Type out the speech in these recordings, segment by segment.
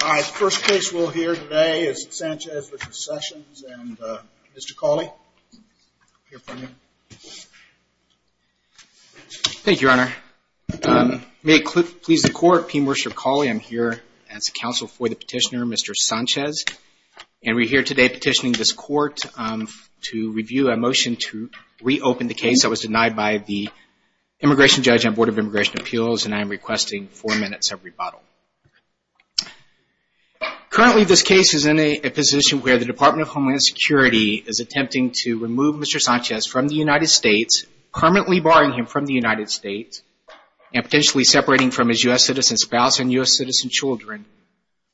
The first case we'll hear today is Sanchez v. Sessions and Mr. Cawley, I'll hear from you. Thank you, Your Honor. May it please the Court, P. Mercer Cawley. I'm here as counsel for the petitioner, Mr. Sanchez. And we're here today petitioning this Court to review a motion to reopen the case that was denied by the Immigration Judge on Board of Immigration Appeals. And I am requesting four minutes of rebuttal. Currently, this case is in a position where the Department of Homeland Security is attempting to remove Mr. Sanchez from the United States, permanently barring him from the United States and potentially separating from his U.S. citizen spouse and U.S. citizen children,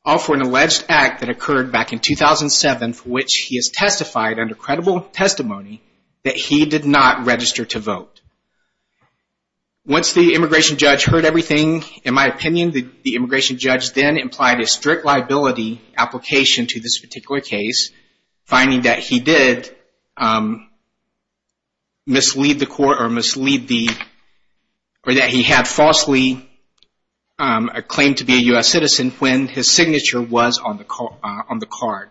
all for an alleged act that occurred back in 2007 for which he has testified under credible testimony that he did not register to vote. Once the Immigration Judge heard everything, in my opinion, the Immigration Judge then implied a strict liability application to this particular case, finding that he had falsely claimed to be a U.S. citizen when his signature was on the card.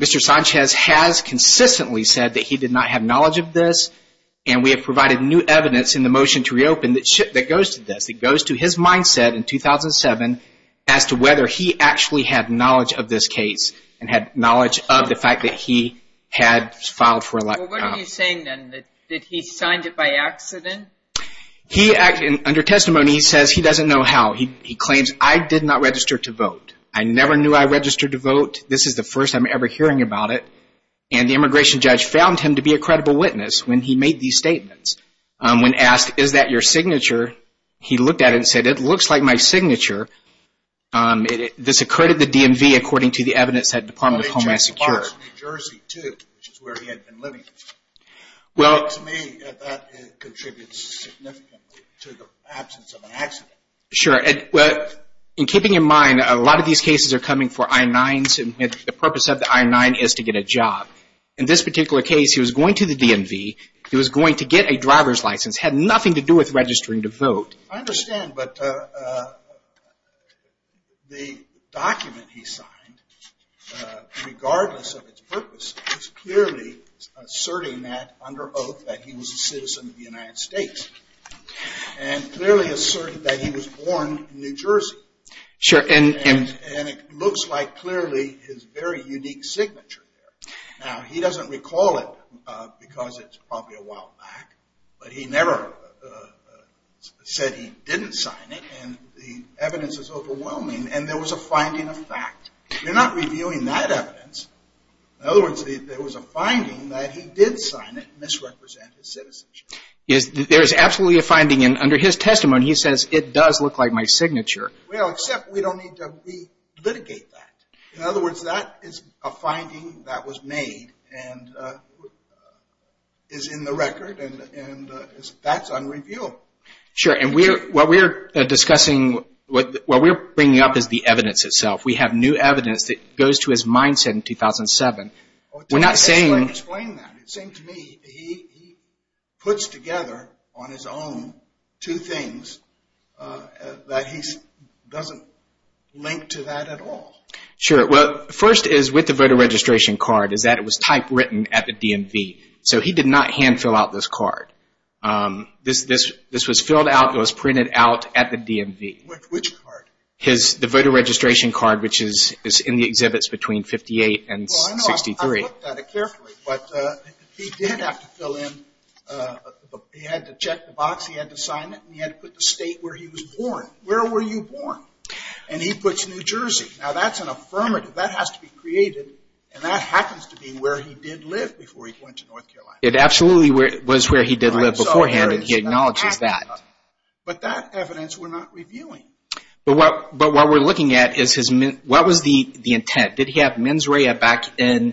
Mr. Sanchez has consistently said that he did not have knowledge of this, and we have provided new evidence in the motion to reopen that goes to this, in 2007, as to whether he actually had knowledge of this case and had knowledge of the fact that he had filed for election. Well, what are you saying, then, that he signed it by accident? Under testimony, he says he doesn't know how. He claims, I did not register to vote. I never knew I registered to vote. This is the first I'm ever hearing about it. And the Immigration Judge found him to be a credible witness when he made these statements. When asked, is that your signature, he looked at it and said, it looks like my signature. This occurred at the DMV, according to the evidence at the Department of Homeland Security. They took the parks in New Jersey, too, which is where he had been living. To me, that contributes significantly to the absence of an accident. Sure. In keeping in mind, a lot of these cases are coming for I-9s, and the purpose of the I-9 is to get a job. In this particular case, he was going to the DMV. He was going to get a driver's license. It had nothing to do with registering to vote. I understand, but the document he signed, regardless of its purpose, is clearly asserting that, under oath, that he was a citizen of the United States. And clearly asserted that he was born in New Jersey. Sure, and And it looks like, clearly, his very unique signature there. Now, he doesn't recall it because it's probably a while back, but he never said he didn't sign it, and the evidence is overwhelming. And there was a finding of fact. You're not reviewing that evidence. In other words, there was a finding that he did sign it and misrepresent his citizenship. There is absolutely a finding, and under his testimony, he says, it does look like my signature. Well, except we don't need to re-litigate that. In other words, that is a finding that was made and is in the record, and that's unreviewable. Sure, and what we're discussing, what we're bringing up is the evidence itself. We have new evidence that goes to his mindset in 2007. Explain that. It seems to me he puts together on his own two things that he doesn't link to that at all. Sure. Well, first is with the voter registration card is that it was typewritten at the DMV. So he did not hand fill out this card. This was filled out. It was printed out at the DMV. Which card? The voter registration card, which is in the exhibits between 58 and 63. He looked at it carefully, but he did have to fill in, he had to check the box, he had to sign it, and he had to put the state where he was born. Where were you born? And he puts New Jersey. Now, that's an affirmative. That has to be created, and that happens to be where he did live before he went to North Carolina. It absolutely was where he did live beforehand, and he acknowledges that. But that evidence we're not reviewing. But what we're looking at is his, what was the intent? Did he have mens rea back in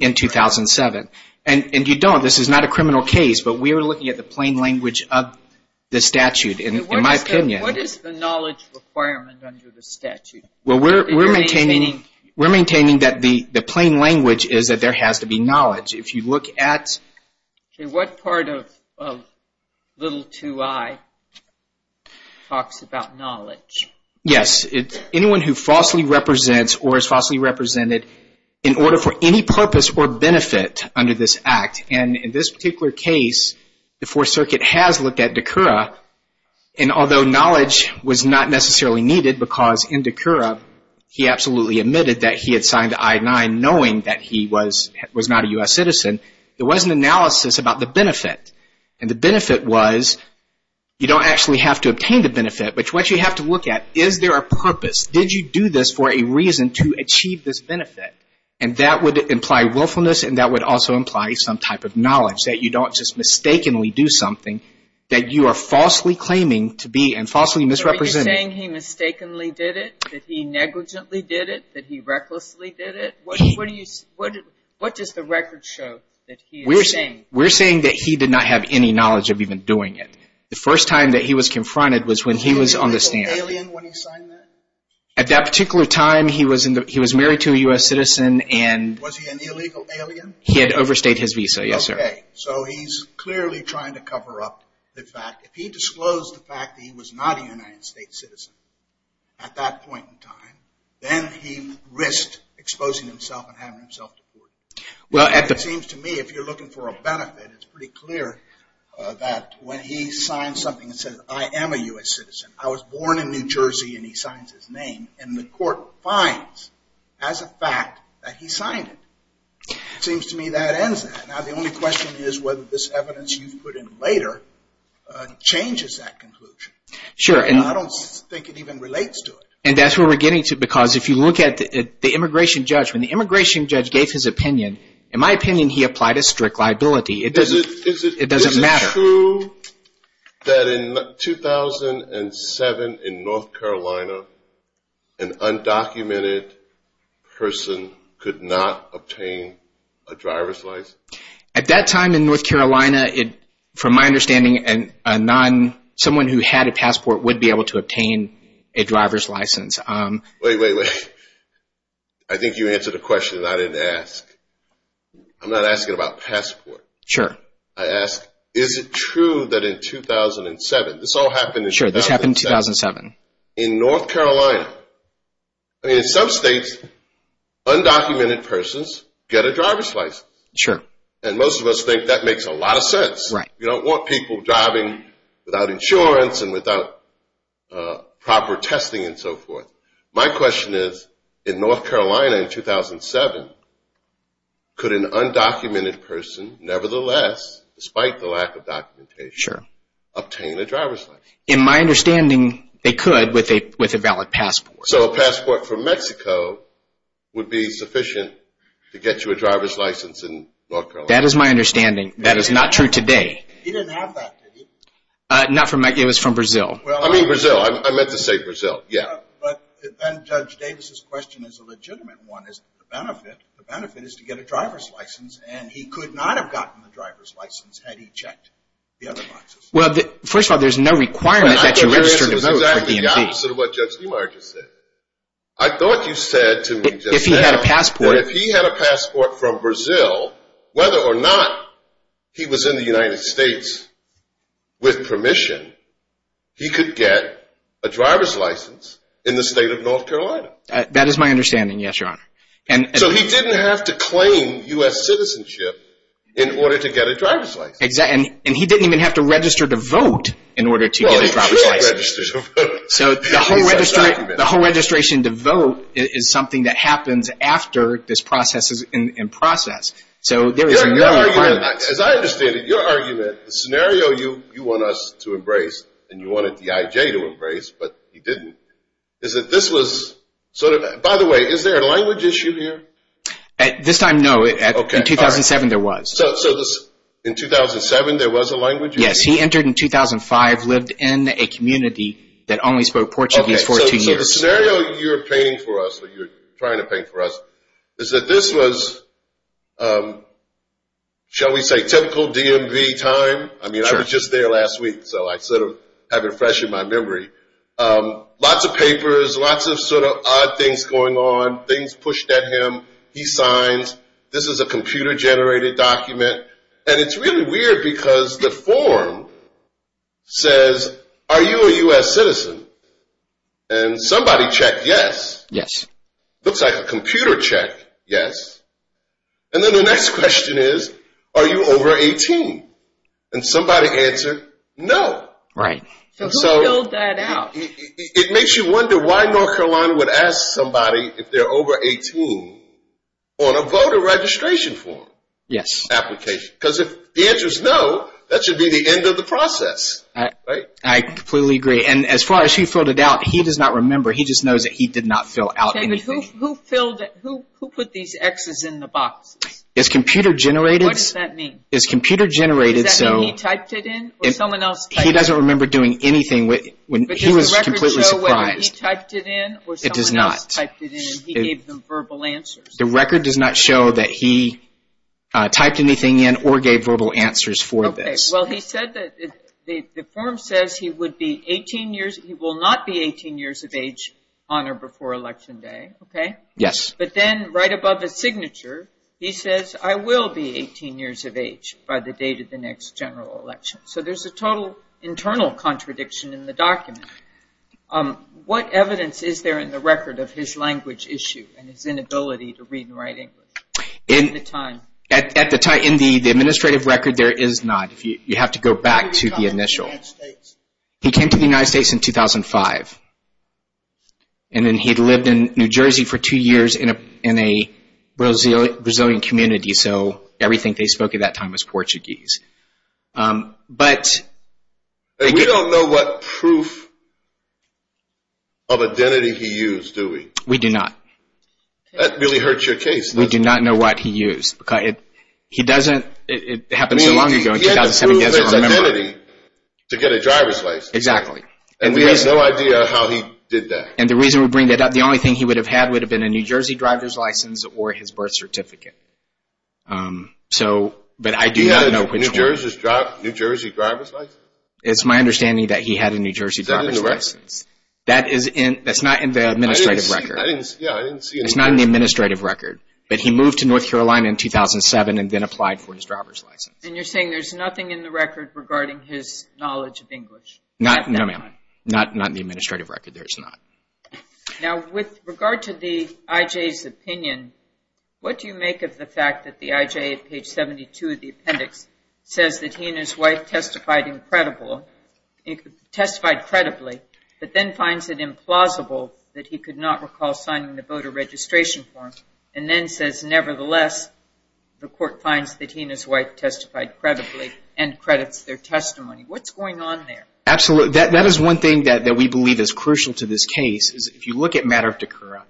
2007? And you don't. This is not a criminal case, but we are looking at the plain language of the statute, in my opinion. What is the knowledge requirement under the statute? Well, we're maintaining that the plain language is that there has to be knowledge. If you look at... Okay, what part of little 2i talks about knowledge? Yes, anyone who falsely represents or is falsely represented in order for any purpose or benefit under this act. And in this particular case, the Fourth Circuit has looked at de Cura, and although knowledge was not necessarily needed because in de Cura, he absolutely admitted that he had signed the I-9 knowing that he was not a U.S. citizen. There was an analysis about the benefit, and the benefit was you don't actually have to obtain the benefit, but what you have to look at, is there a purpose? Did you do this for a reason to achieve this benefit? And that would imply willfulness, and that would also imply some type of knowledge, that you don't just mistakenly do something that you are falsely claiming to be and falsely misrepresenting. So are you saying he mistakenly did it, that he negligently did it, that he recklessly did it? What does the record show that he is saying? We're saying that he did not have any knowledge of even doing it. The first time that he was confronted was when he was on the stand. Was he an illegal alien when he signed that? At that particular time, he was married to a U.S. citizen. Was he an illegal alien? He had overstayed his visa, yes, sir. Okay, so he's clearly trying to cover up the fact. If he disclosed the fact that he was not a United States citizen at that point in time, then he risked exposing himself and having himself deported. It seems to me if you're looking for a benefit, it's pretty clear that when he signs something that says, I am a U.S. citizen, I was born in New Jersey, and he signs his name, and the court finds as a fact that he signed it. It seems to me that ends that. Now, the only question is whether this evidence you've put in later changes that conclusion. Sure. I don't think it even relates to it. And that's where we're getting to, because if you look at the immigration judge, when the immigration judge gave his opinion, in my opinion, he applied a strict liability. It doesn't matter. Is it true that in 2007 in North Carolina, an undocumented person could not obtain a driver's license? At that time in North Carolina, from my understanding, someone who had a passport would be able to obtain a driver's license. Wait, wait, wait. I think you answered a question that I didn't ask. I'm not asking about passport. Sure. I ask, is it true that in 2007, this all happened in 2007. Sure, this happened in 2007. In North Carolina. I mean, in some states, undocumented persons get a driver's license. Sure. And most of us think that makes a lot of sense. Right. You don't want people driving without insurance and without proper testing and so forth. My question is, in North Carolina in 2007, could an undocumented person nevertheless, despite the lack of documentation, obtain a driver's license? In my understanding, they could with a valid passport. So a passport from Mexico would be sufficient to get you a driver's license in North Carolina? That is my understanding. That is not true today. He didn't have that, did he? Not from Mexico. It was from Brazil. I mean Brazil. I meant to say Brazil. Yeah. But then Judge Davis's question is a legitimate one. The benefit is to get a driver's license, and he could not have gotten the driver's license had he checked the other licenses. Well, first of all, there's no requirement that you register to vote for DMV. I think this is exactly the opposite of what Judge DeMarcus said. I thought you said to me just now that if he had a passport from Brazil, whether or not he was in the United States with permission, he could get a driver's license in the state of North Carolina. That is my understanding, yes, Your Honor. So he didn't have to claim U.S. citizenship in order to get a driver's license. And he didn't even have to register to vote in order to get a driver's license. Well, he could have registered to vote. So the whole registration to vote is something that happens after this process is in process. So there is no requirement. As I understand it, your argument, the scenario you want us to embrace and you wanted the IJ to embrace, but he didn't, is that this was sort of – by the way, is there a language issue here? At this time, no. In 2007, there was. So in 2007, there was a language issue? Yes, he entered in 2005, lived in a community that only spoke Portuguese for two years. So the scenario you're painting for us, or you're trying to paint for us, is that this was, shall we say, typical DMV time. I mean, I was just there last week, so I sort of have it fresh in my memory. Lots of papers, lots of sort of odd things going on, things pushed at him. He signs, this is a computer-generated document. And it's really weird because the form says, are you a U.S. citizen? And somebody checked yes. Yes. Looks like a computer checked yes. And then the next question is, are you over 18? And somebody answered no. Right. So who filled that out? It makes you wonder why North Carolina would ask somebody if they're over 18 on a voter registration form application. Yes. Because if the answer is no, that should be the end of the process, right? I completely agree. And as far as who filled it out, he does not remember. He just knows that he did not fill out anything. Okay, but who put these X's in the boxes? It's computer-generated. What does that mean? Does that mean he typed it in or someone else typed it in? He doesn't remember doing anything. He was completely surprised. But does the record show when he typed it in or someone else typed it in and he gave them verbal answers? The record does not show that he typed anything in or gave verbal answers for this. Okay. Well, he said that the form says he would be 18 years, he will not be 18 years of age on or before Election Day, okay? Yes. But then right above his signature, he says, I will be 18 years of age by the date of the next general election. So there's a total internal contradiction in the document. What evidence is there in the record of his language issue and his inability to read and write English at the time? At the time, in the administrative record, there is not. You have to go back to the initial. When did he come to the United States? He came to the United States in 2005. And then he lived in New Jersey for two years in a Brazilian community, so everything they spoke at that time was Portuguese. We don't know what proof of identity he used, do we? We do not. That really hurts your case. We do not know what he used. It happened so long ago, in 2007, he doesn't remember. He had to prove his identity to get a driver's license. Exactly. And we have no idea how he did that. And the reason we bring that up, the only thing he would have had would have been a New Jersey driver's license or his birth certificate. But I do not know which one. He had a New Jersey driver's license? It's my understanding that he had a New Jersey driver's license. Is that in the record? That's not in the administrative record. Yeah, I didn't see it. It's not in the administrative record. But he moved to North Carolina in 2007 and then applied for his driver's license. And you're saying there's nothing in the record regarding his knowledge of English? No, ma'am. Not in the administrative record. There is not. Now, with regard to the IJ's opinion, what do you make of the fact that the IJ, at page 72 of the appendix, says that he and his wife testified credibly but then finds it implausible that he could not recall signing the voter registration form and then says, nevertheless, the court finds that he and his wife testified credibly and credits their testimony? What's going on there? Absolutely. That is one thing that we believe is crucial to this case. If you look at Matter of Takura,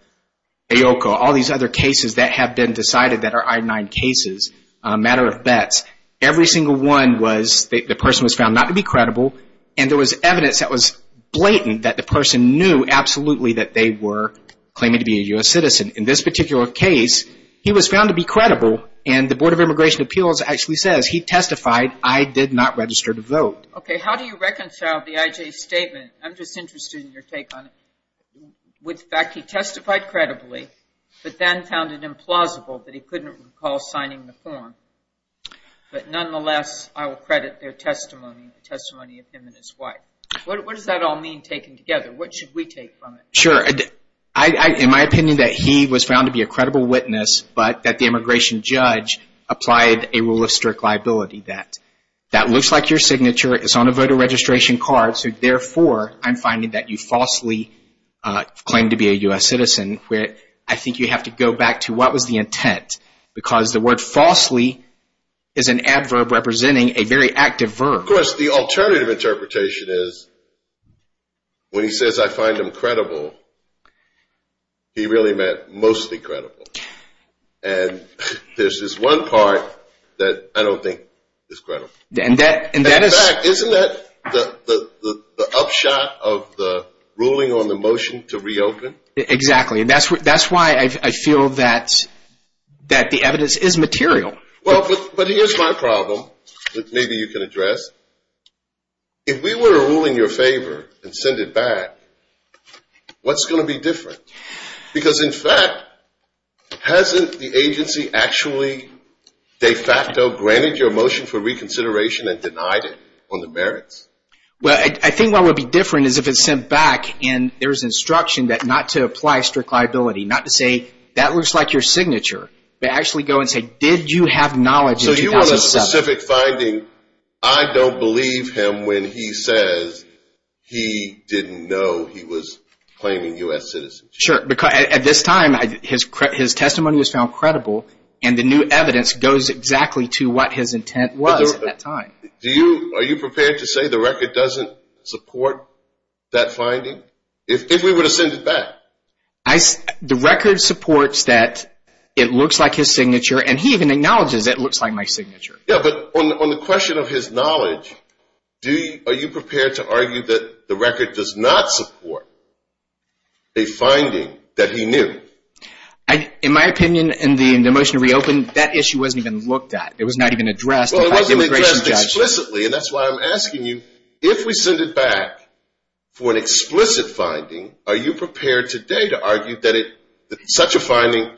IOKA, all these other cases that have been decided that are I-9 cases, Matter of Bets, every single one was the person was found not to be credible, and there was evidence that was blatant that the person knew absolutely that they were claiming to be a U.S. citizen. In this particular case, he was found to be credible, and the Board of Immigration Appeals actually says he testified, I did not register to vote. Okay. How do you reconcile the IJ's statement, I'm just interested in your take on it, with the fact he testified credibly but then found it implausible that he couldn't recall signing the form, but nonetheless, I will credit their testimony, the testimony of him and his wife. What does that all mean, taken together? What should we take from it? Sure. In my opinion, that he was found to be a credible witness, but that the immigration judge applied a rule of strict liability. That looks like your signature, it's on a voter registration card, so therefore I'm finding that you falsely claimed to be a U.S. citizen. I think you have to go back to what was the intent, because the word falsely is an adverb representing a very active verb. Of course, the alternative interpretation is when he says I find him credible, he really meant mostly credible. And there's this one part that I don't think is credible. In fact, isn't that the upshot of the ruling on the motion to reopen? Exactly, and that's why I feel that the evidence is material. Well, but here's my problem that maybe you can address. If we were ruling your favor and send it back, what's going to be different? Because, in fact, hasn't the agency actually de facto granted your motion for reconsideration and denied it on the merits? Well, I think what would be different is if it's sent back and there's instruction not to apply strict liability, not to say that looks like your signature, but actually go and say did you have knowledge in 2007? So you want a specific finding, I don't believe him when he says he didn't know he was claiming U.S. citizenship. Sure, because at this time his testimony was found credible, and the new evidence goes exactly to what his intent was at that time. Are you prepared to say the record doesn't support that finding? If we were to send it back? The record supports that it looks like his signature, and he even acknowledges it looks like my signature. Yeah, but on the question of his knowledge, are you prepared to argue that the record does not support a finding that he knew? In my opinion, in the motion to reopen, that issue wasn't even looked at. It was not even addressed. Well, it wasn't addressed explicitly, and that's why I'm asking you, if we send it back for an explicit finding, are you prepared today to argue that such a finding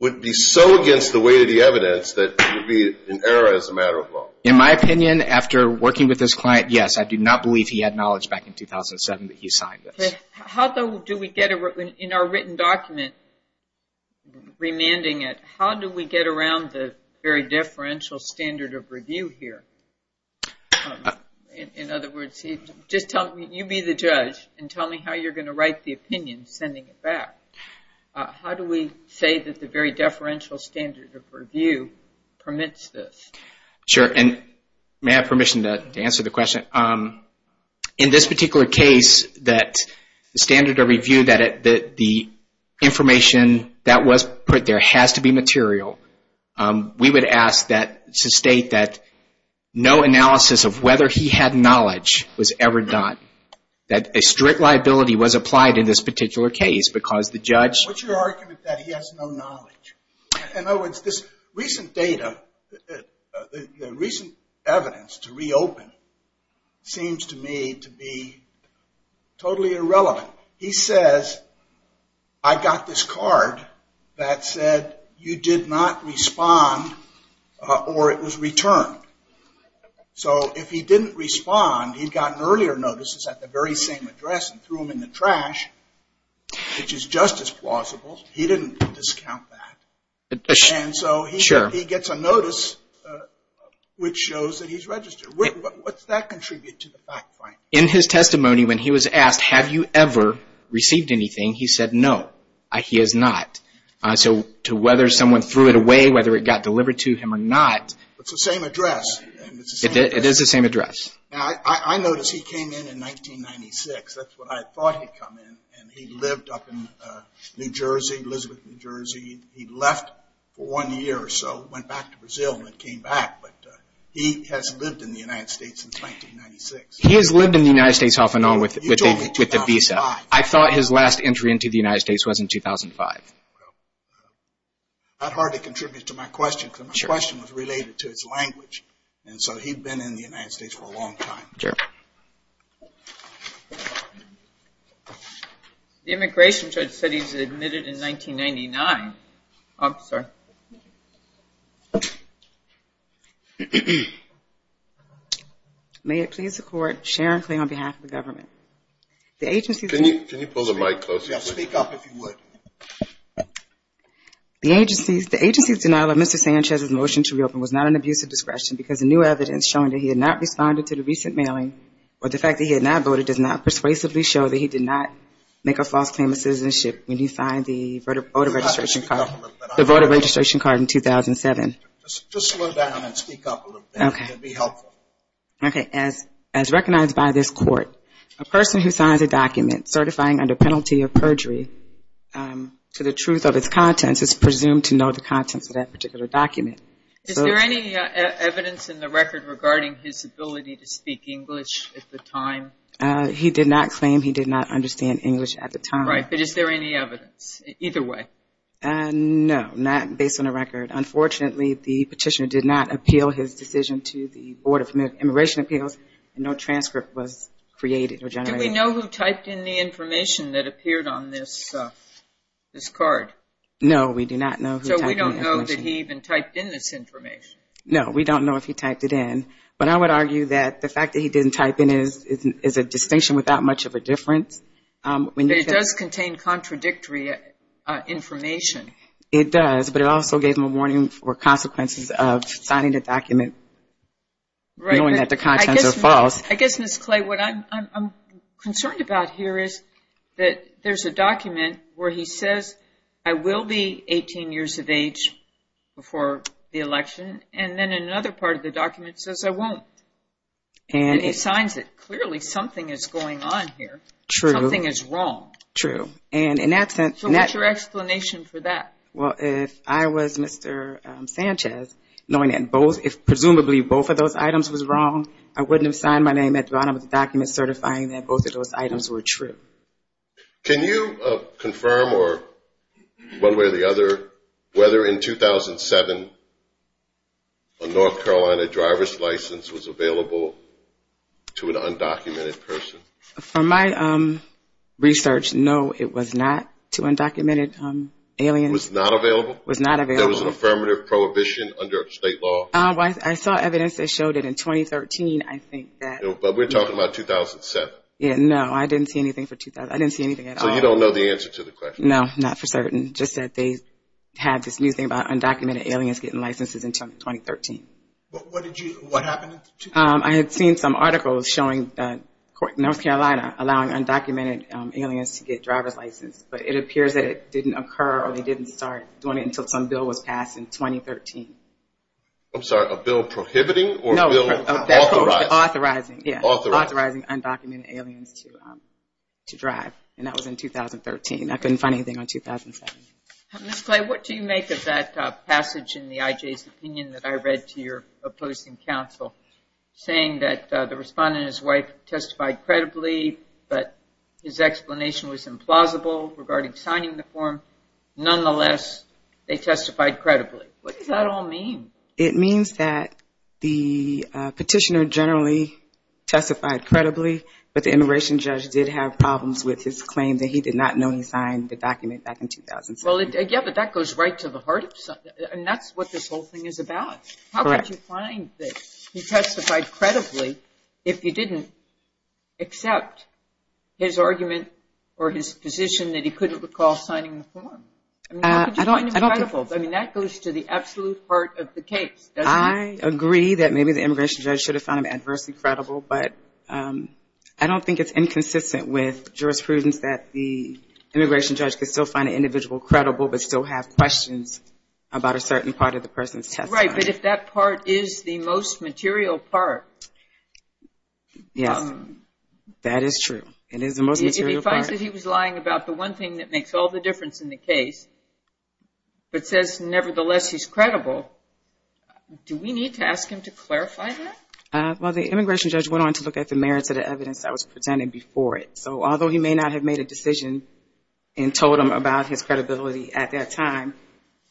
would be so against the weight of the evidence that it would be an error as a matter of law? In my opinion, after working with this client, yes, I do not believe he had knowledge back in 2007 that he signed this. How, though, do we get in our written document, remanding it, how do we get around the very differential standard of review here? In other words, just tell me, you be the judge, and tell me how you're going to write the opinion sending it back. How do we say that the very deferential standard of review permits this? Sure, and may I have permission to answer the question? In this particular case, the standard of review, the information that was put there has to be material. We would ask that to state that no analysis of whether he had knowledge was ever done, that a strict liability was applied in this particular case because the judge- What's your argument that he has no knowledge? In other words, this recent data, the recent evidence to reopen seems to me to be totally irrelevant. So he says, I got this card that said you did not respond or it was returned. So if he didn't respond, he'd gotten earlier notices at the very same address and threw them in the trash, which is just as plausible. He didn't discount that. And so he gets a notice which shows that he's registered. What's that contribute to the fact finding? In his testimony when he was asked, have you ever received anything, he said no, he has not. So to whether someone threw it away, whether it got delivered to him or not- It's the same address. It is the same address. I noticed he came in in 1996. That's when I thought he'd come in. And he lived up in New Jersey, Elizabeth, New Jersey. He left for one year or so, went back to Brazil and came back. But he has lived in the United States since 1996. He has lived in the United States off and on with the visa. I thought his last entry into the United States was in 2005. It's not hard to contribute to my question because my question was related to his language. And so he'd been in the United States for a long time. The immigration judge said he was admitted in 1999. I'm sorry. May it please the Court, Sharon Clay on behalf of the government. The agency's- Can you pull the mic closer? Speak up if you would. The agency's denial of Mr. Sanchez's motion to reopen was not an abuse of discretion because the new evidence showing that he had not responded to the recent mailing or the fact that he had not voted does not persuasively show that he did not make a false claim of citizenship when you find the voter registration card. Just slow down and speak up a little bit. Okay. It would be helpful. Okay. As recognized by this Court, a person who signs a document certifying under penalty of perjury to the truth of its contents is presumed to know the contents of that particular document. Is there any evidence in the record regarding his ability to speak English at the time? He did not claim he did not understand English at the time. Right. But is there any evidence? Either way. No, not based on the record. Unfortunately, the petitioner did not appeal his decision to the Board of Immigration Appeals, and no transcript was created or generated. Do we know who typed in the information that appeared on this card? No, we do not know who typed in the information. So we don't know that he even typed in this information? No, we don't know if he typed it in. But I would argue that the fact that he didn't type in is a distinction without much of a difference. But it does contain contradictory information. It does, but it also gave him a warning for consequences of signing a document knowing that the contents are false. I guess, Ms. Clay, what I'm concerned about here is that there's a document where he says, I will be 18 years of age before the election, and then another part of the document says, I won't. And it signs it. Clearly, something is going on here. True. Something is wrong. True. So what's your explanation for that? Well, if I was Mr. Sanchez, knowing that presumably both of those items was wrong, I wouldn't have signed my name at the bottom of the document certifying that both of those items were true. Can you confirm one way or the other whether in 2007 a North Carolina driver's license was available to an undocumented person? From my research, no, it was not to undocumented aliens. It was not available? It was not available. There was an affirmative prohibition under state law? I saw evidence that showed it in 2013, I think. But we're talking about 2007. Yeah, no, I didn't see anything for 2007. I didn't see anything at all. So you don't know the answer to the question? No, not for certain. Just that they had this new thing about undocumented aliens getting licenses until 2013. What happened in 2013? I had seen some articles showing North Carolina allowing undocumented aliens to get driver's license, but it appears that it didn't occur or they didn't start doing it until some bill was passed in 2013. I'm sorry, a bill prohibiting or a bill authorizing? Authorizing undocumented aliens to drive, and that was in 2013. I couldn't find anything on 2007. Ms. Clay, what do you make of that passage in the IJ's opinion that I read to your opposing counsel, saying that the respondent and his wife testified credibly, but his explanation was implausible regarding signing the form. Nonetheless, they testified credibly. What does that all mean? It means that the petitioner generally testified credibly, but the immigration judge did have problems with his claim that he did not know he signed the document back in 2007. Well, yeah, but that goes right to the heart of it, and that's what this whole thing is about. Correct. How could you find that he testified credibly if you didn't accept his argument or his position that he couldn't recall signing the form? I mean, how could you find him credible? I mean, that goes to the absolute heart of the case, doesn't it? I agree that maybe the immigration judge should have found him adversely credible, but I don't think it's inconsistent with jurisprudence that the immigration judge could still find an individual credible but still have questions about a certain part of the person's testimony. Right, but if that part is the most material part. Yes, that is true. It is the most material part. If he finds that he was lying about the one thing that makes all the difference in the case, but says nevertheless he's credible, do we need to ask him to clarify that? Well, the immigration judge went on to look at the merits of the evidence that was presented before it. So although he may not have made a decision and told him about his credibility at that time,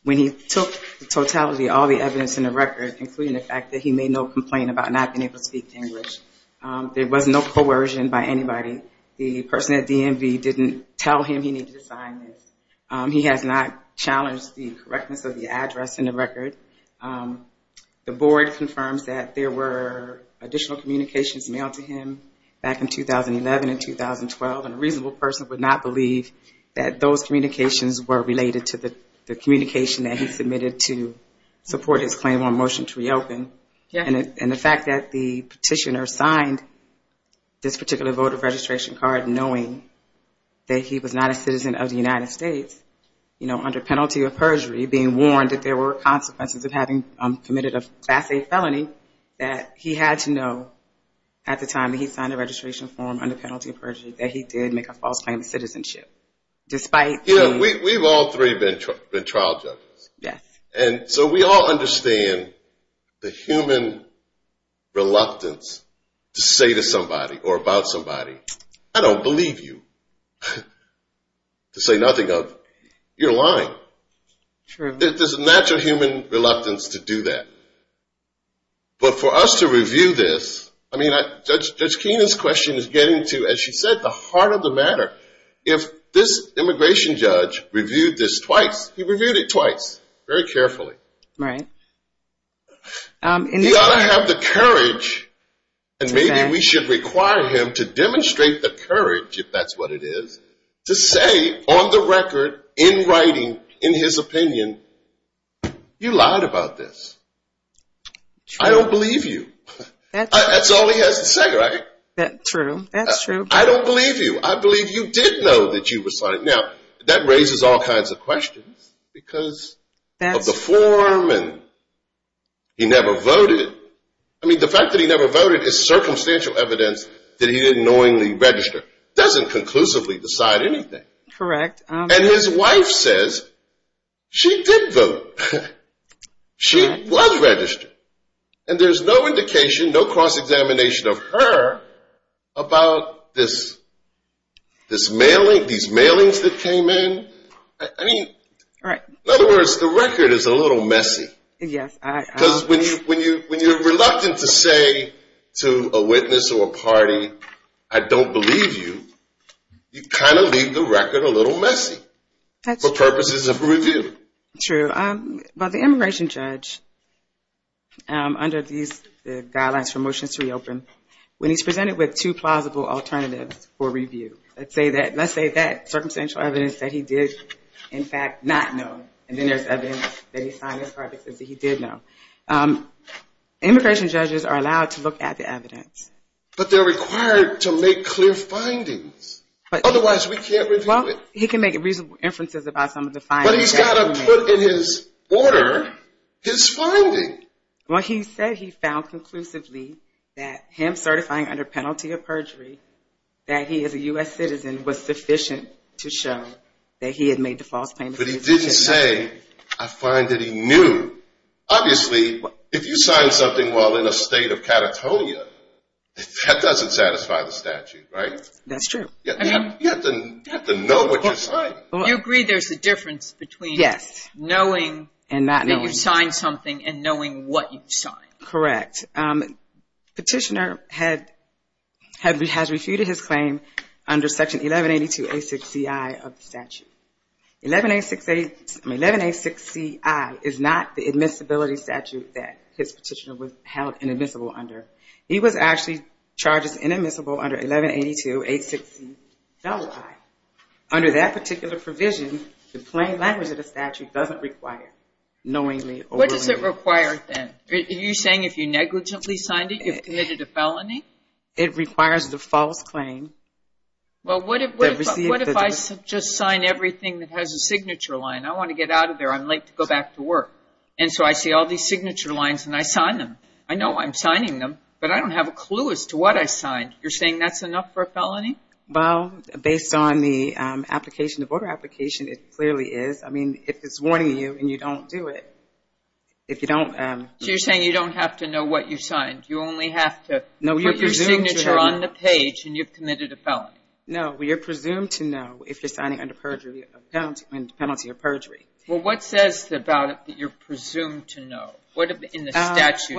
when he took totality of all the evidence in the record, including the fact that he made no complaint about not being able to speak English, there was no coercion by anybody. The person at DMV didn't tell him he needed to sign this. He has not challenged the correctness of the address in the record. The board confirms that there were additional communications mailed to him back in 2011 and 2012, and a reasonable person would not believe that those communications were related to the communication that he submitted to support his claim on motion to reopen. And the fact that the petitioner signed this particular voter registration card knowing that he was not a citizen of the United States, you know, under penalty of perjury, being warned that there were consequences of having committed a Class A felony, that he had to know at the time that he signed the registration form under penalty of perjury that he did make a false claim of citizenship. We've all three been trial judges. Yes. And so we all understand the human reluctance to say to somebody or about somebody, I don't believe you, to say nothing of, you're lying. There's a natural human reluctance to do that. But for us to review this, I mean, Judge Keenan's question is getting to, as she said, the heart of the matter. If this immigration judge reviewed this twice, he reviewed it twice. Very carefully. Right. He ought to have the courage, and maybe we should require him to demonstrate the courage, if that's what it is, to say on the record, in writing, in his opinion, you lied about this. I don't believe you. That's all he has to say, right? True. That's true. I don't believe you. I believe you did know that you were signing. Now, that raises all kinds of questions because of the form and he never voted. I mean, the fact that he never voted is circumstantial evidence that he didn't knowingly register. It doesn't conclusively decide anything. Correct. And his wife says she did vote. She was registered. And there's no indication, no cross-examination of her about this mailing, these mailings that came in. I mean, in other words, the record is a little messy. Yes. Because when you're reluctant to say to a witness or a party, I don't believe you, you kind of leave the record a little messy for purposes of review. True. But the immigration judge, under the guidelines for Motions to Reopen, when he's presented with two plausible alternatives for review, let's say that circumstantial evidence that he did, in fact, not know, and then there's evidence that he signed his card that says he did know. Immigration judges are allowed to look at the evidence. But they're required to make clear findings. Otherwise, we can't review it. Well, he can make reasonable inferences about some of the findings. But he's got to put in his order his finding. Well, he said he found conclusively that him certifying under penalty of perjury that he is a U.S. citizen was sufficient to show that he had made the false claim. But he didn't say, I find that he knew. Obviously, if you sign something while in a state of Catatonia, that doesn't satisfy the statute, right? You have to know what you're signing. So you agree there's a difference between knowing that you've signed something and knowing what you've signed. Correct. Petitioner has refuted his claim under Section 1182-860-I of the statute. 1186-I is not the admissibility statute that his petitioner was held inadmissible under. He was actually charged as inadmissible under 1182-860-I. Under that particular provision, the plain language of the statute doesn't require knowingly overruling. What does it require then? Are you saying if you negligently signed it, you've committed a felony? It requires the false claim. Well, what if I just sign everything that has a signature line? I want to get out of there. I'm late to go back to work. And so I see all these signature lines, and I sign them. I know I'm signing them, but I don't have a clue as to what I signed. You're saying that's enough for a felony? Well, based on the application, the voter application, it clearly is. I mean, if it's warning you and you don't do it, if you don't. So you're saying you don't have to know what you signed? You only have to put your signature on the page, and you've committed a felony? No, you're presumed to know if you're signing under penalty of perjury. Well, what says about it that you're presumed to know? What in the statute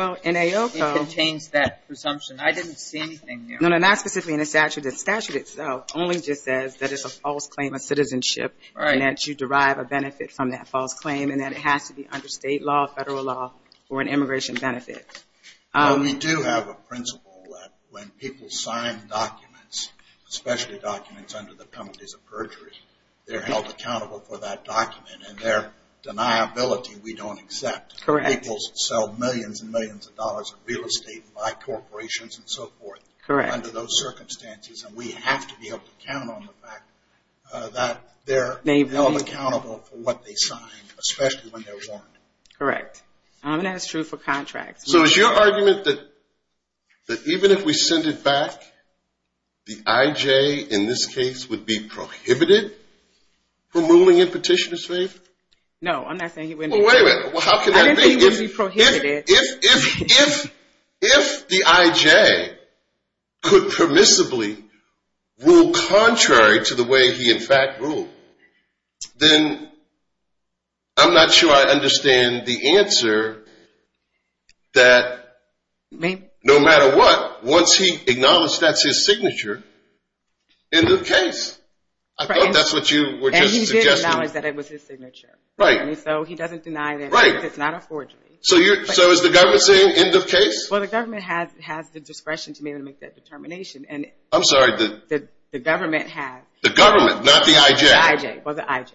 contains that presumption? I didn't see anything there. No, not specifically in the statute. The statute itself only just says that it's a false claim of citizenship and that you derive a benefit from that false claim and that it has to be under state law, federal law, or an immigration benefit. We do have a principle that when people sign documents, especially documents under the penalties of perjury, they're held accountable for that document, and their deniability we don't accept. Correct. People sell millions and millions of dollars of real estate by corporations and so forth. Correct. Under those circumstances, and we have to be able to count on the fact that they're held accountable for what they sign, especially when they're warned. Correct. And that's true for contracts. So is your argument that even if we send it back, the IJ in this case would be prohibited from ruling in petitioner's favor? No, I'm not saying he wouldn't be. Well, wait a minute. How can that be? I didn't say he wouldn't be prohibited. If the IJ could permissibly rule contrary to the way he in fact ruled, then I'm not sure I understand the answer that no matter what, once he acknowledged that's his signature, end of case. I thought that's what you were just suggesting. And he did acknowledge that it was his signature. Right. And so he doesn't deny that it's not a forgery. So is the government saying end of case? Well, the government has the discretion to make that determination. I'm sorry. The government has. The government, not the IJ. The IJ. Well, the IJ.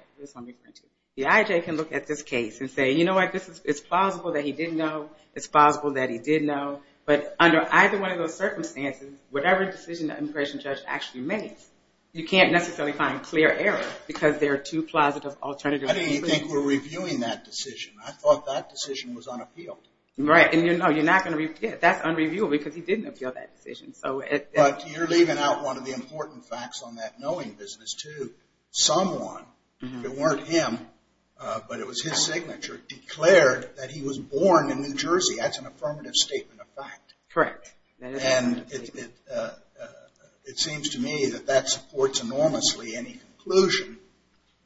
The IJ can look at this case and say, you know what? It's plausible that he didn't know. It's plausible that he did know. But under either one of those circumstances, whatever decision the immigration judge actually makes, you can't necessarily find clear error because there are two plausible alternatives. How do you think we're reviewing that decision? I thought that decision was unappealed. Right. And you're not going to review it. That's unreviewable because he didn't appeal that decision. But you're leaving out one of the important facts on that knowing business, too. Someone, if it weren't him but it was his signature, declared that he was born in New Jersey. That's an affirmative statement of fact. Correct. And it seems to me that that supports enormously any conclusion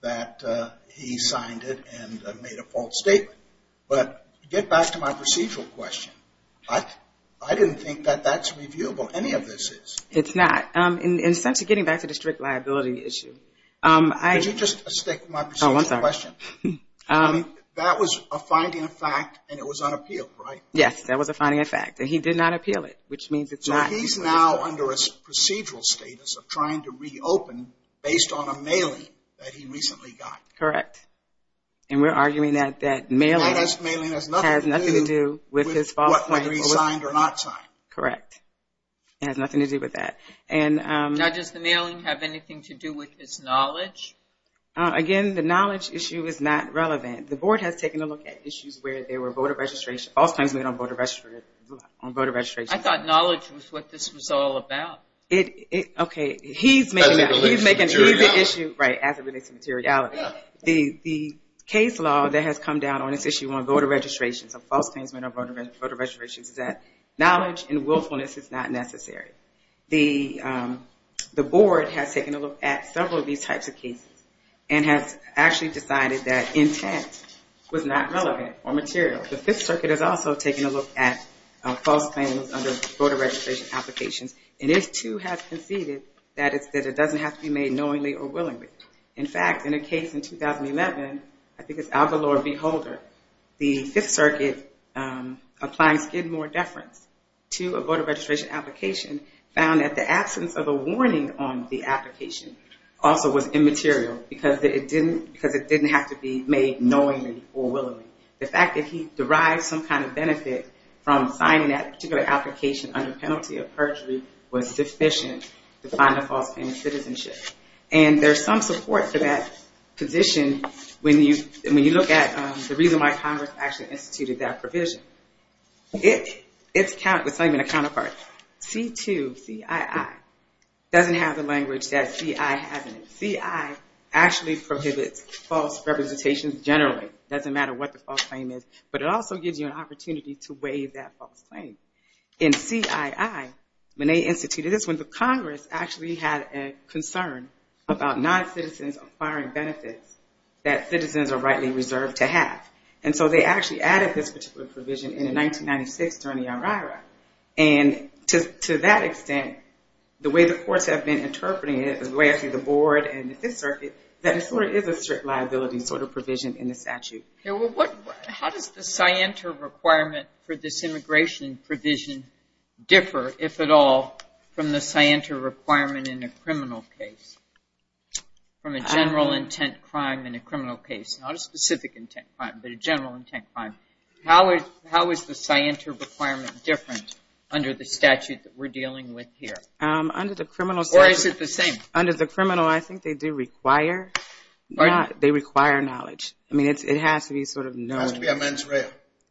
that he signed it and made a false statement. But to get back to my procedural question, I didn't think that that's reviewable. Any of this is. It's not. In the sense of getting back to the strict liability issue. Could you just stick with my procedural question? Oh, I'm sorry. That was a finding of fact and it was unappealed, right? Yes, that was a finding of fact. And he did not appeal it, which means it's not. So he's now under a procedural status of trying to reopen based on a mailing that he recently got. Correct. And we're arguing that mailing has nothing to do with his false claim. Whether he signed or not signed. Correct. It has nothing to do with that. Now, does the mailing have anything to do with his knowledge? Again, the knowledge issue is not relevant. The Board has taken a look at issues where there were voter registration, false claims made on voter registration. I thought knowledge was what this was all about. Okay, he's making that. He's making it. Right, as it relates to materiality. The case law that has come down on this issue on voter registration, on false claims made on voter registration, is that knowledge and willfulness is not necessary. The Board has taken a look at several of these types of cases and has actually decided that intent was not relevant or material. The Fifth Circuit has also taken a look at false claims under voter registration applications. And it, too, has conceded that it doesn't have to be made knowingly or willingly. In fact, in a case in 2011, I think it's Algalor v. Holder, the Fifth Circuit applying Skidmore deference to a voter registration application found that the absence of a warning on the application also was immaterial because it didn't have to be made knowingly or willingly. The fact that he derived some kind of benefit from signing that particular application under penalty of perjury was sufficient to find a false claim of citizenship. And there's some support for that position when you look at the reason why Congress actually instituted that provision. It's not even a counterpart. C-2, C-I-I, doesn't have the language that C-I has in it. C-I actually prohibits false representations generally. It doesn't matter what the false claim is, but it also gives you an opportunity to waive that false claim. In C-I-I, when they instituted this one, the Congress actually had a concern about non-citizens acquiring benefits that citizens are rightly reserved to have. And so they actually added this particular provision in 1996 during the IRIRA. And to that extent, the way the courts have been interpreting it, the way I see the board and the Fifth Circuit, that it sort of is a strict liability sort of provision in the statute. How does the scienter requirement for this immigration provision differ, if at all, from the scienter requirement in a criminal case, from a general intent crime in a criminal case? Not a specific intent crime, but a general intent crime. How is the scienter requirement different under the statute that we're dealing with here? Under the criminal statute. Or is it the same? Under the criminal, I think they do require knowledge. I mean, it has to be sort of known. It has to be a mens rea.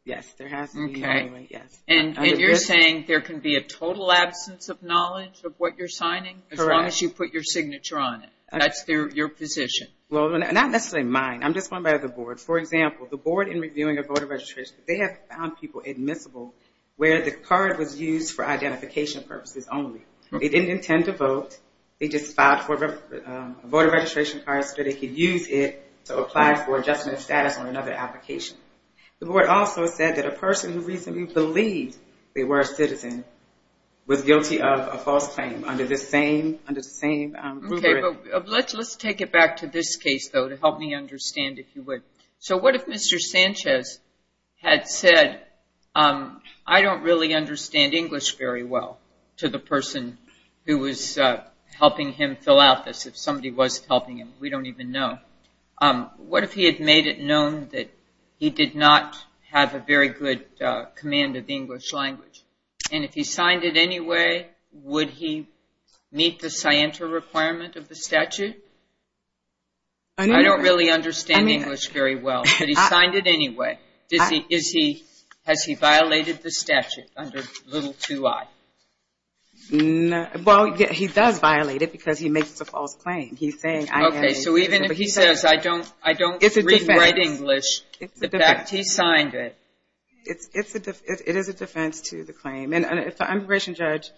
Yes. Okay. And you're saying there can be a total absence of knowledge of what you're signing? Correct. As long as you put your signature on it. That's your position. Well, not necessarily mine. I'm just going by the board. For example, the board in reviewing a voter registration, they have found people admissible where the card was used for identification purposes only. They didn't intend to vote. They just filed a voter registration card so they could use it to apply for adjustment status on another application. The board also said that a person who reasonably believed they were a citizen was guilty of a false claim under the same rubric. Okay, but let's take it back to this case, though, to help me understand, if you would. So what if Mr. Sanchez had said, I don't really understand English very well, to the person who was helping him fill out this. If somebody was helping him, we don't even know. What if he had made it known that he did not have a very good command of the English language? And if he signed it anyway, would he meet the scienter requirement of the statute? I don't really understand English very well, but he signed it anyway. Has he violated the statute under little too I? Well, he does violate it because he makes a false claim. Okay, so even if he says, I don't read and write English, the fact that he signed it. It is a defense to the claim. And if the immigration judge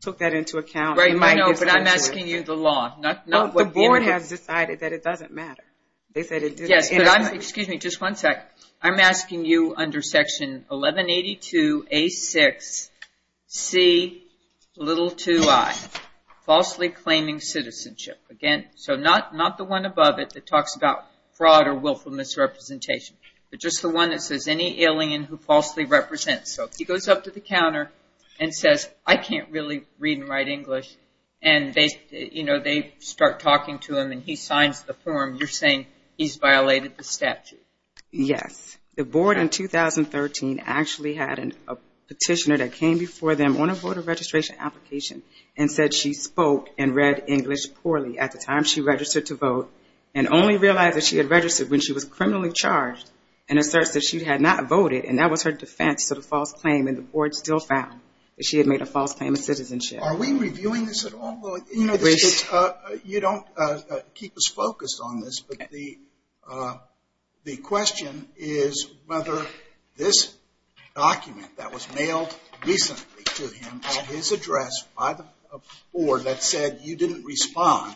took that into account, he might give it to you. But I'm asking you the law, not what the immigration judge said. The board has decided that it doesn't matter. Excuse me, just one sec. I'm asking you under section 1182A6C2I, falsely claiming citizenship. So not the one above it that talks about fraud or willful misrepresentation, but just the one that says any alien who falsely represents. So if he goes up to the counter and says, I can't really read and write English, and they start talking to him and he signs the form, you're saying he's violated the statute? Yes. The board in 2013 actually had a petitioner that came before them on a voter registration application and said she spoke and read English poorly at the time she registered to vote and only realized that she had registered when she was criminally charged and asserts that she had not voted and that was her defense to the false claim and the board still found that she had made a false claim of citizenship. Are we reviewing this at all? You know, you don't keep us focused on this, but the question is whether this document that was mailed recently to him or his address by the board that said you didn't respond,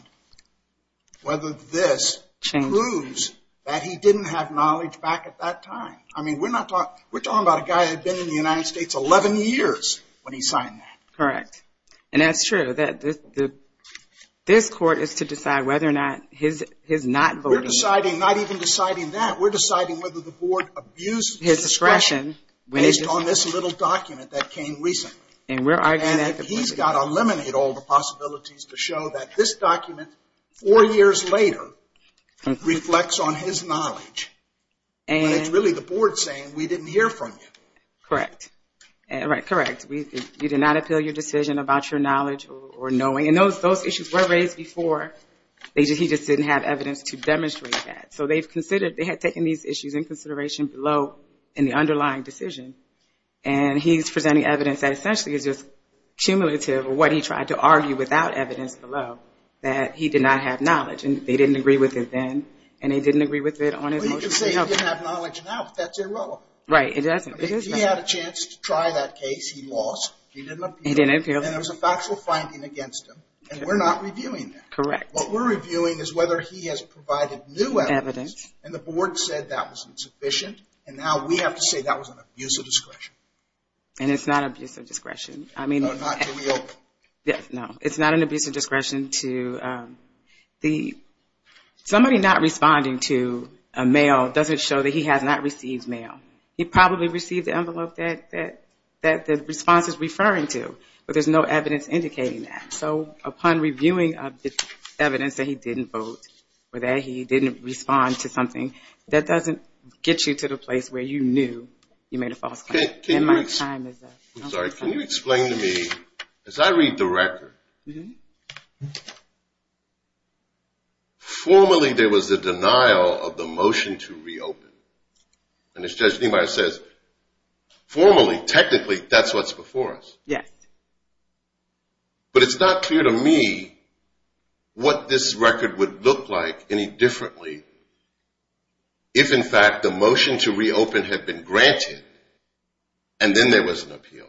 whether this proves that he didn't have knowledge back at that time. I mean, we're talking about a guy that had been in the United States 11 years when he signed that. Correct, and that's true. This court is to decide whether or not his not voting. We're deciding not even deciding that. We're deciding whether the board abused his discretion based on this little document that came recently. And we're arguing that. And he's got to eliminate all the possibilities to show that this document, four years later, reflects on his knowledge. But it's really the board saying we didn't hear from you. Correct. You did not appeal your decision about your knowledge or knowing. And those issues were raised before. He just didn't have evidence to demonstrate that. So they had taken these issues in consideration below in the underlying decision, and he's presenting evidence that essentially is just cumulative of what he tried to argue without evidence below, that he did not have knowledge. And they didn't agree with it then, and they didn't agree with it on his motion. Well, you can say he didn't have knowledge now, but that's irrelevant. Right, it doesn't. He had a chance to try that case. He lost. He didn't appeal. He didn't appeal. And there was a factual finding against him, and we're not reviewing that. Correct. What we're reviewing is whether he has provided new evidence, and the board said that was insufficient, and now we have to say that was an abuse of discretion. And it's not an abuse of discretion. No, not to reopen. No, it's not an abuse of discretion. Somebody not responding to a mail doesn't show that he has not received mail. He probably received the envelope that the response is referring to, but there's no evidence indicating that. So upon reviewing the evidence that he didn't vote or that he didn't respond to something, that doesn't get you to the place where you knew you made a false claim. Can you explain to me, as I read the record, formally there was a denial of the motion to reopen, and as Judge Niemeyer says, formally, technically, that's what's before us. Yes. But it's not clear to me what this record would look like any differently if, in fact, the motion to reopen had been granted and then there was an appeal.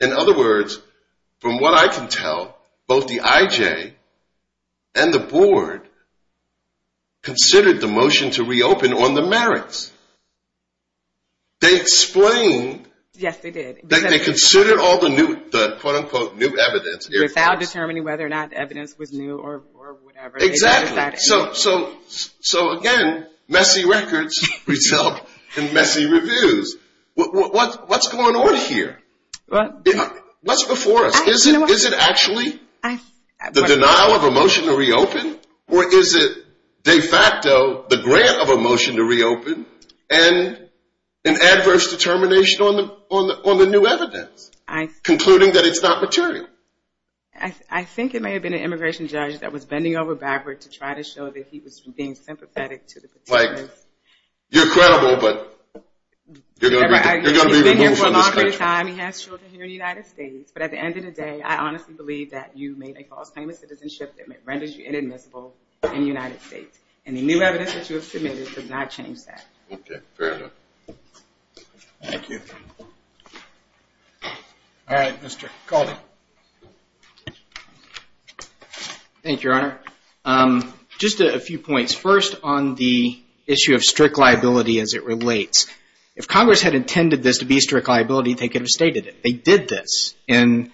In other words, from what I can tell, both the IJ and the Board considered the motion to reopen on the merits. They explained. Yes, they did. They considered all the quote, unquote, new evidence. Without determining whether or not the evidence was new or whatever. Exactly. So, again, messy records result in messy reviews. What's going on here? What's before us? Is it actually the denial of a motion to reopen, or is it de facto the grant of a motion to reopen and an adverse determination on the new evidence, concluding that it's not material? I think it may have been an immigration judge that was bending over backwards to try to show that he was being sympathetic to the material. You're credible, but you're going to be removed from the schedule. He's been here for a long period of time. He has children here in the United States. But at the end of the day, I honestly believe that you made a false claim of citizenship that renders you inadmissible in the United States. And the new evidence that you have submitted does not change that. Okay, fair enough. Thank you. All right, Mr. Calderon. Thank you, Your Honor. Just a few points. First on the issue of strict liability as it relates. If Congress had intended this to be strict liability, they could have stated it. They did this. In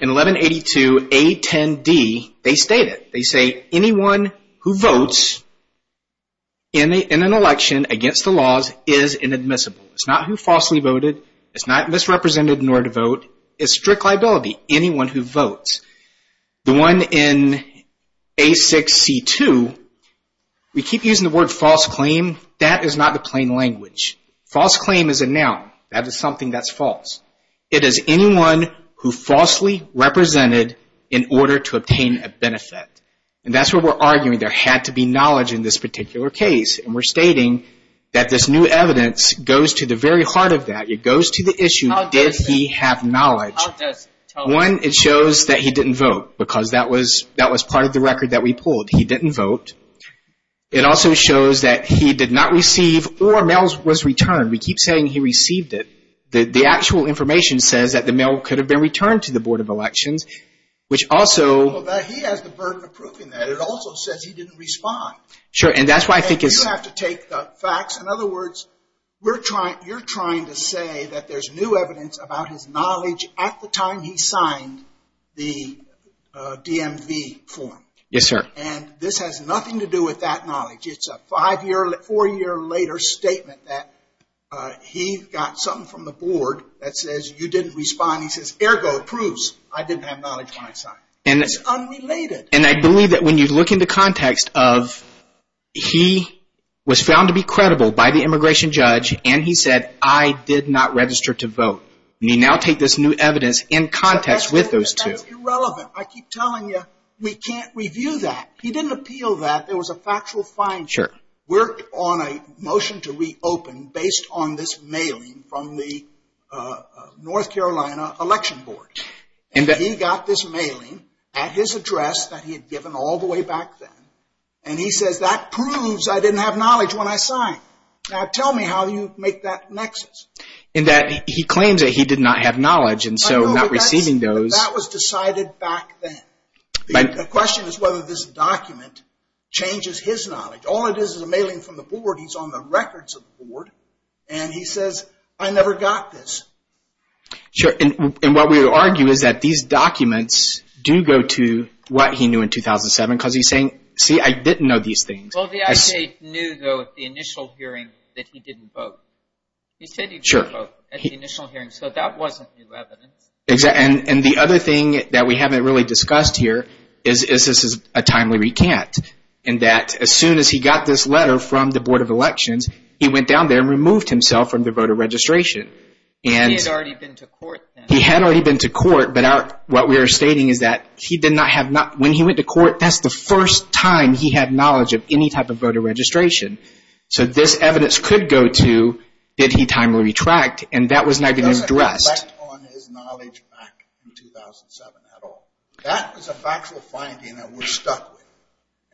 1182A10D, they state it. They say anyone who votes in an election against the laws is inadmissible. It's not who falsely voted. It's not misrepresented in order to vote. It's strict liability. Anyone who votes. The one in A6C2, we keep using the word false claim. That is not the plain language. False claim is a noun. That is something that's false. It is anyone who falsely represented in order to obtain a benefit. And that's what we're arguing. There had to be knowledge in this particular case. And we're stating that this new evidence goes to the very heart of that. It goes to the issue, did he have knowledge. One, it shows that he didn't vote because that was part of the record that we pulled. He didn't vote. It also shows that he did not receive or mail was returned. We keep saying he received it. The actual information says that the mail could have been returned to the Board of Elections, which also. He has the burden of proving that. It also says he didn't respond. Sure, and that's why I think it's. You have to take the facts. In other words, you're trying to say that there's new evidence about his knowledge at the time he signed the DMV form. Yes, sir. And this has nothing to do with that knowledge. It's a five-year, four-year later statement that he got something from the board that says you didn't respond. He says, ergo, proves I didn't have knowledge when I signed. It's unrelated. And I believe that when you look in the context of he was found to be credible by the immigration judge and he said, I did not register to vote. You now take this new evidence in context with those two. That's irrelevant. I keep telling you we can't review that. He didn't appeal that. There was a factual fine. Sure. Worked on a motion to reopen based on this mailing from the North Carolina Election Board. And he got this mailing at his address that he had given all the way back then. And he says, that proves I didn't have knowledge when I signed. Now, tell me how you make that nexus. In that he claims that he did not have knowledge and so not receiving those. That was decided back then. The question is whether this document changes his knowledge. All it is is a mailing from the board. He's on the records of the board. And he says, I never got this. Sure. And what we would argue is that these documents do go to what he knew in 2007. Because he's saying, see, I didn't know these things. Well, the I.C. knew, though, at the initial hearing that he didn't vote. He said he didn't vote at the initial hearing. So that wasn't new evidence. And the other thing that we haven't really discussed here is this is a timely recant. In that as soon as he got this letter from the Board of Elections, he went down there and removed himself from the voter registration. He had already been to court then. He had already been to court. But what we are stating is that he did not have knowledge. When he went to court, that's the first time he had knowledge of any type of voter registration. So this evidence could go to, did he timely retract? And that was not even addressed. It doesn't reflect on his knowledge back in 2007 at all. That is a factual finding that we're stuck with.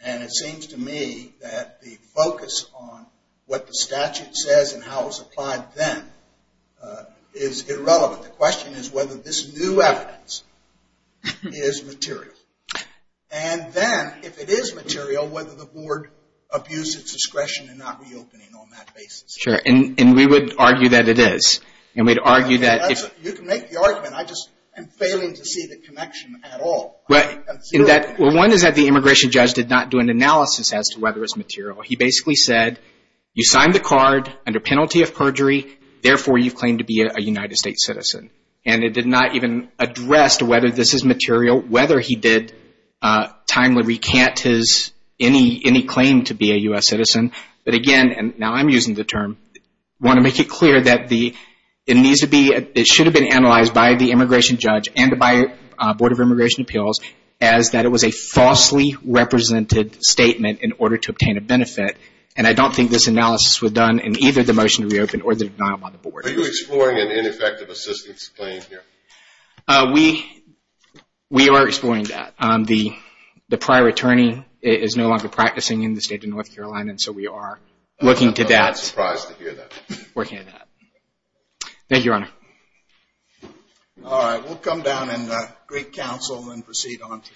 And it seems to me that the focus on what the statute says and how it was applied then is irrelevant. The question is whether this new evidence is material. And then if it is material, whether the board abused its discretion in not reopening on that basis. Sure. And we would argue that it is. And we'd argue that if. You can make the argument. I just am failing to see the connection at all. Well, one is that the immigration judge did not do an analysis as to whether it's material. He basically said, you signed the card under penalty of perjury. Therefore, you claim to be a United States citizen. And it did not even address whether this is material, whether he did timely recant any claim to be a U.S. citizen. But again, and now I'm using the term, I want to make it clear that it needs to be, it should have been analyzed by the immigration judge and by the Board of Immigration Appeals, as that it was a falsely represented statement in order to obtain a benefit. And I don't think this analysis was done in either the motion to reopen or the denial by the board. Are you exploring an ineffective assistance claim here? We are exploring that. The prior attorney is no longer practicing in the state of North Carolina, and so we are looking to that. I'm surprised to hear that. Thank you, Your Honor. All right. We'll come down and greet counsel and proceed on to the next case.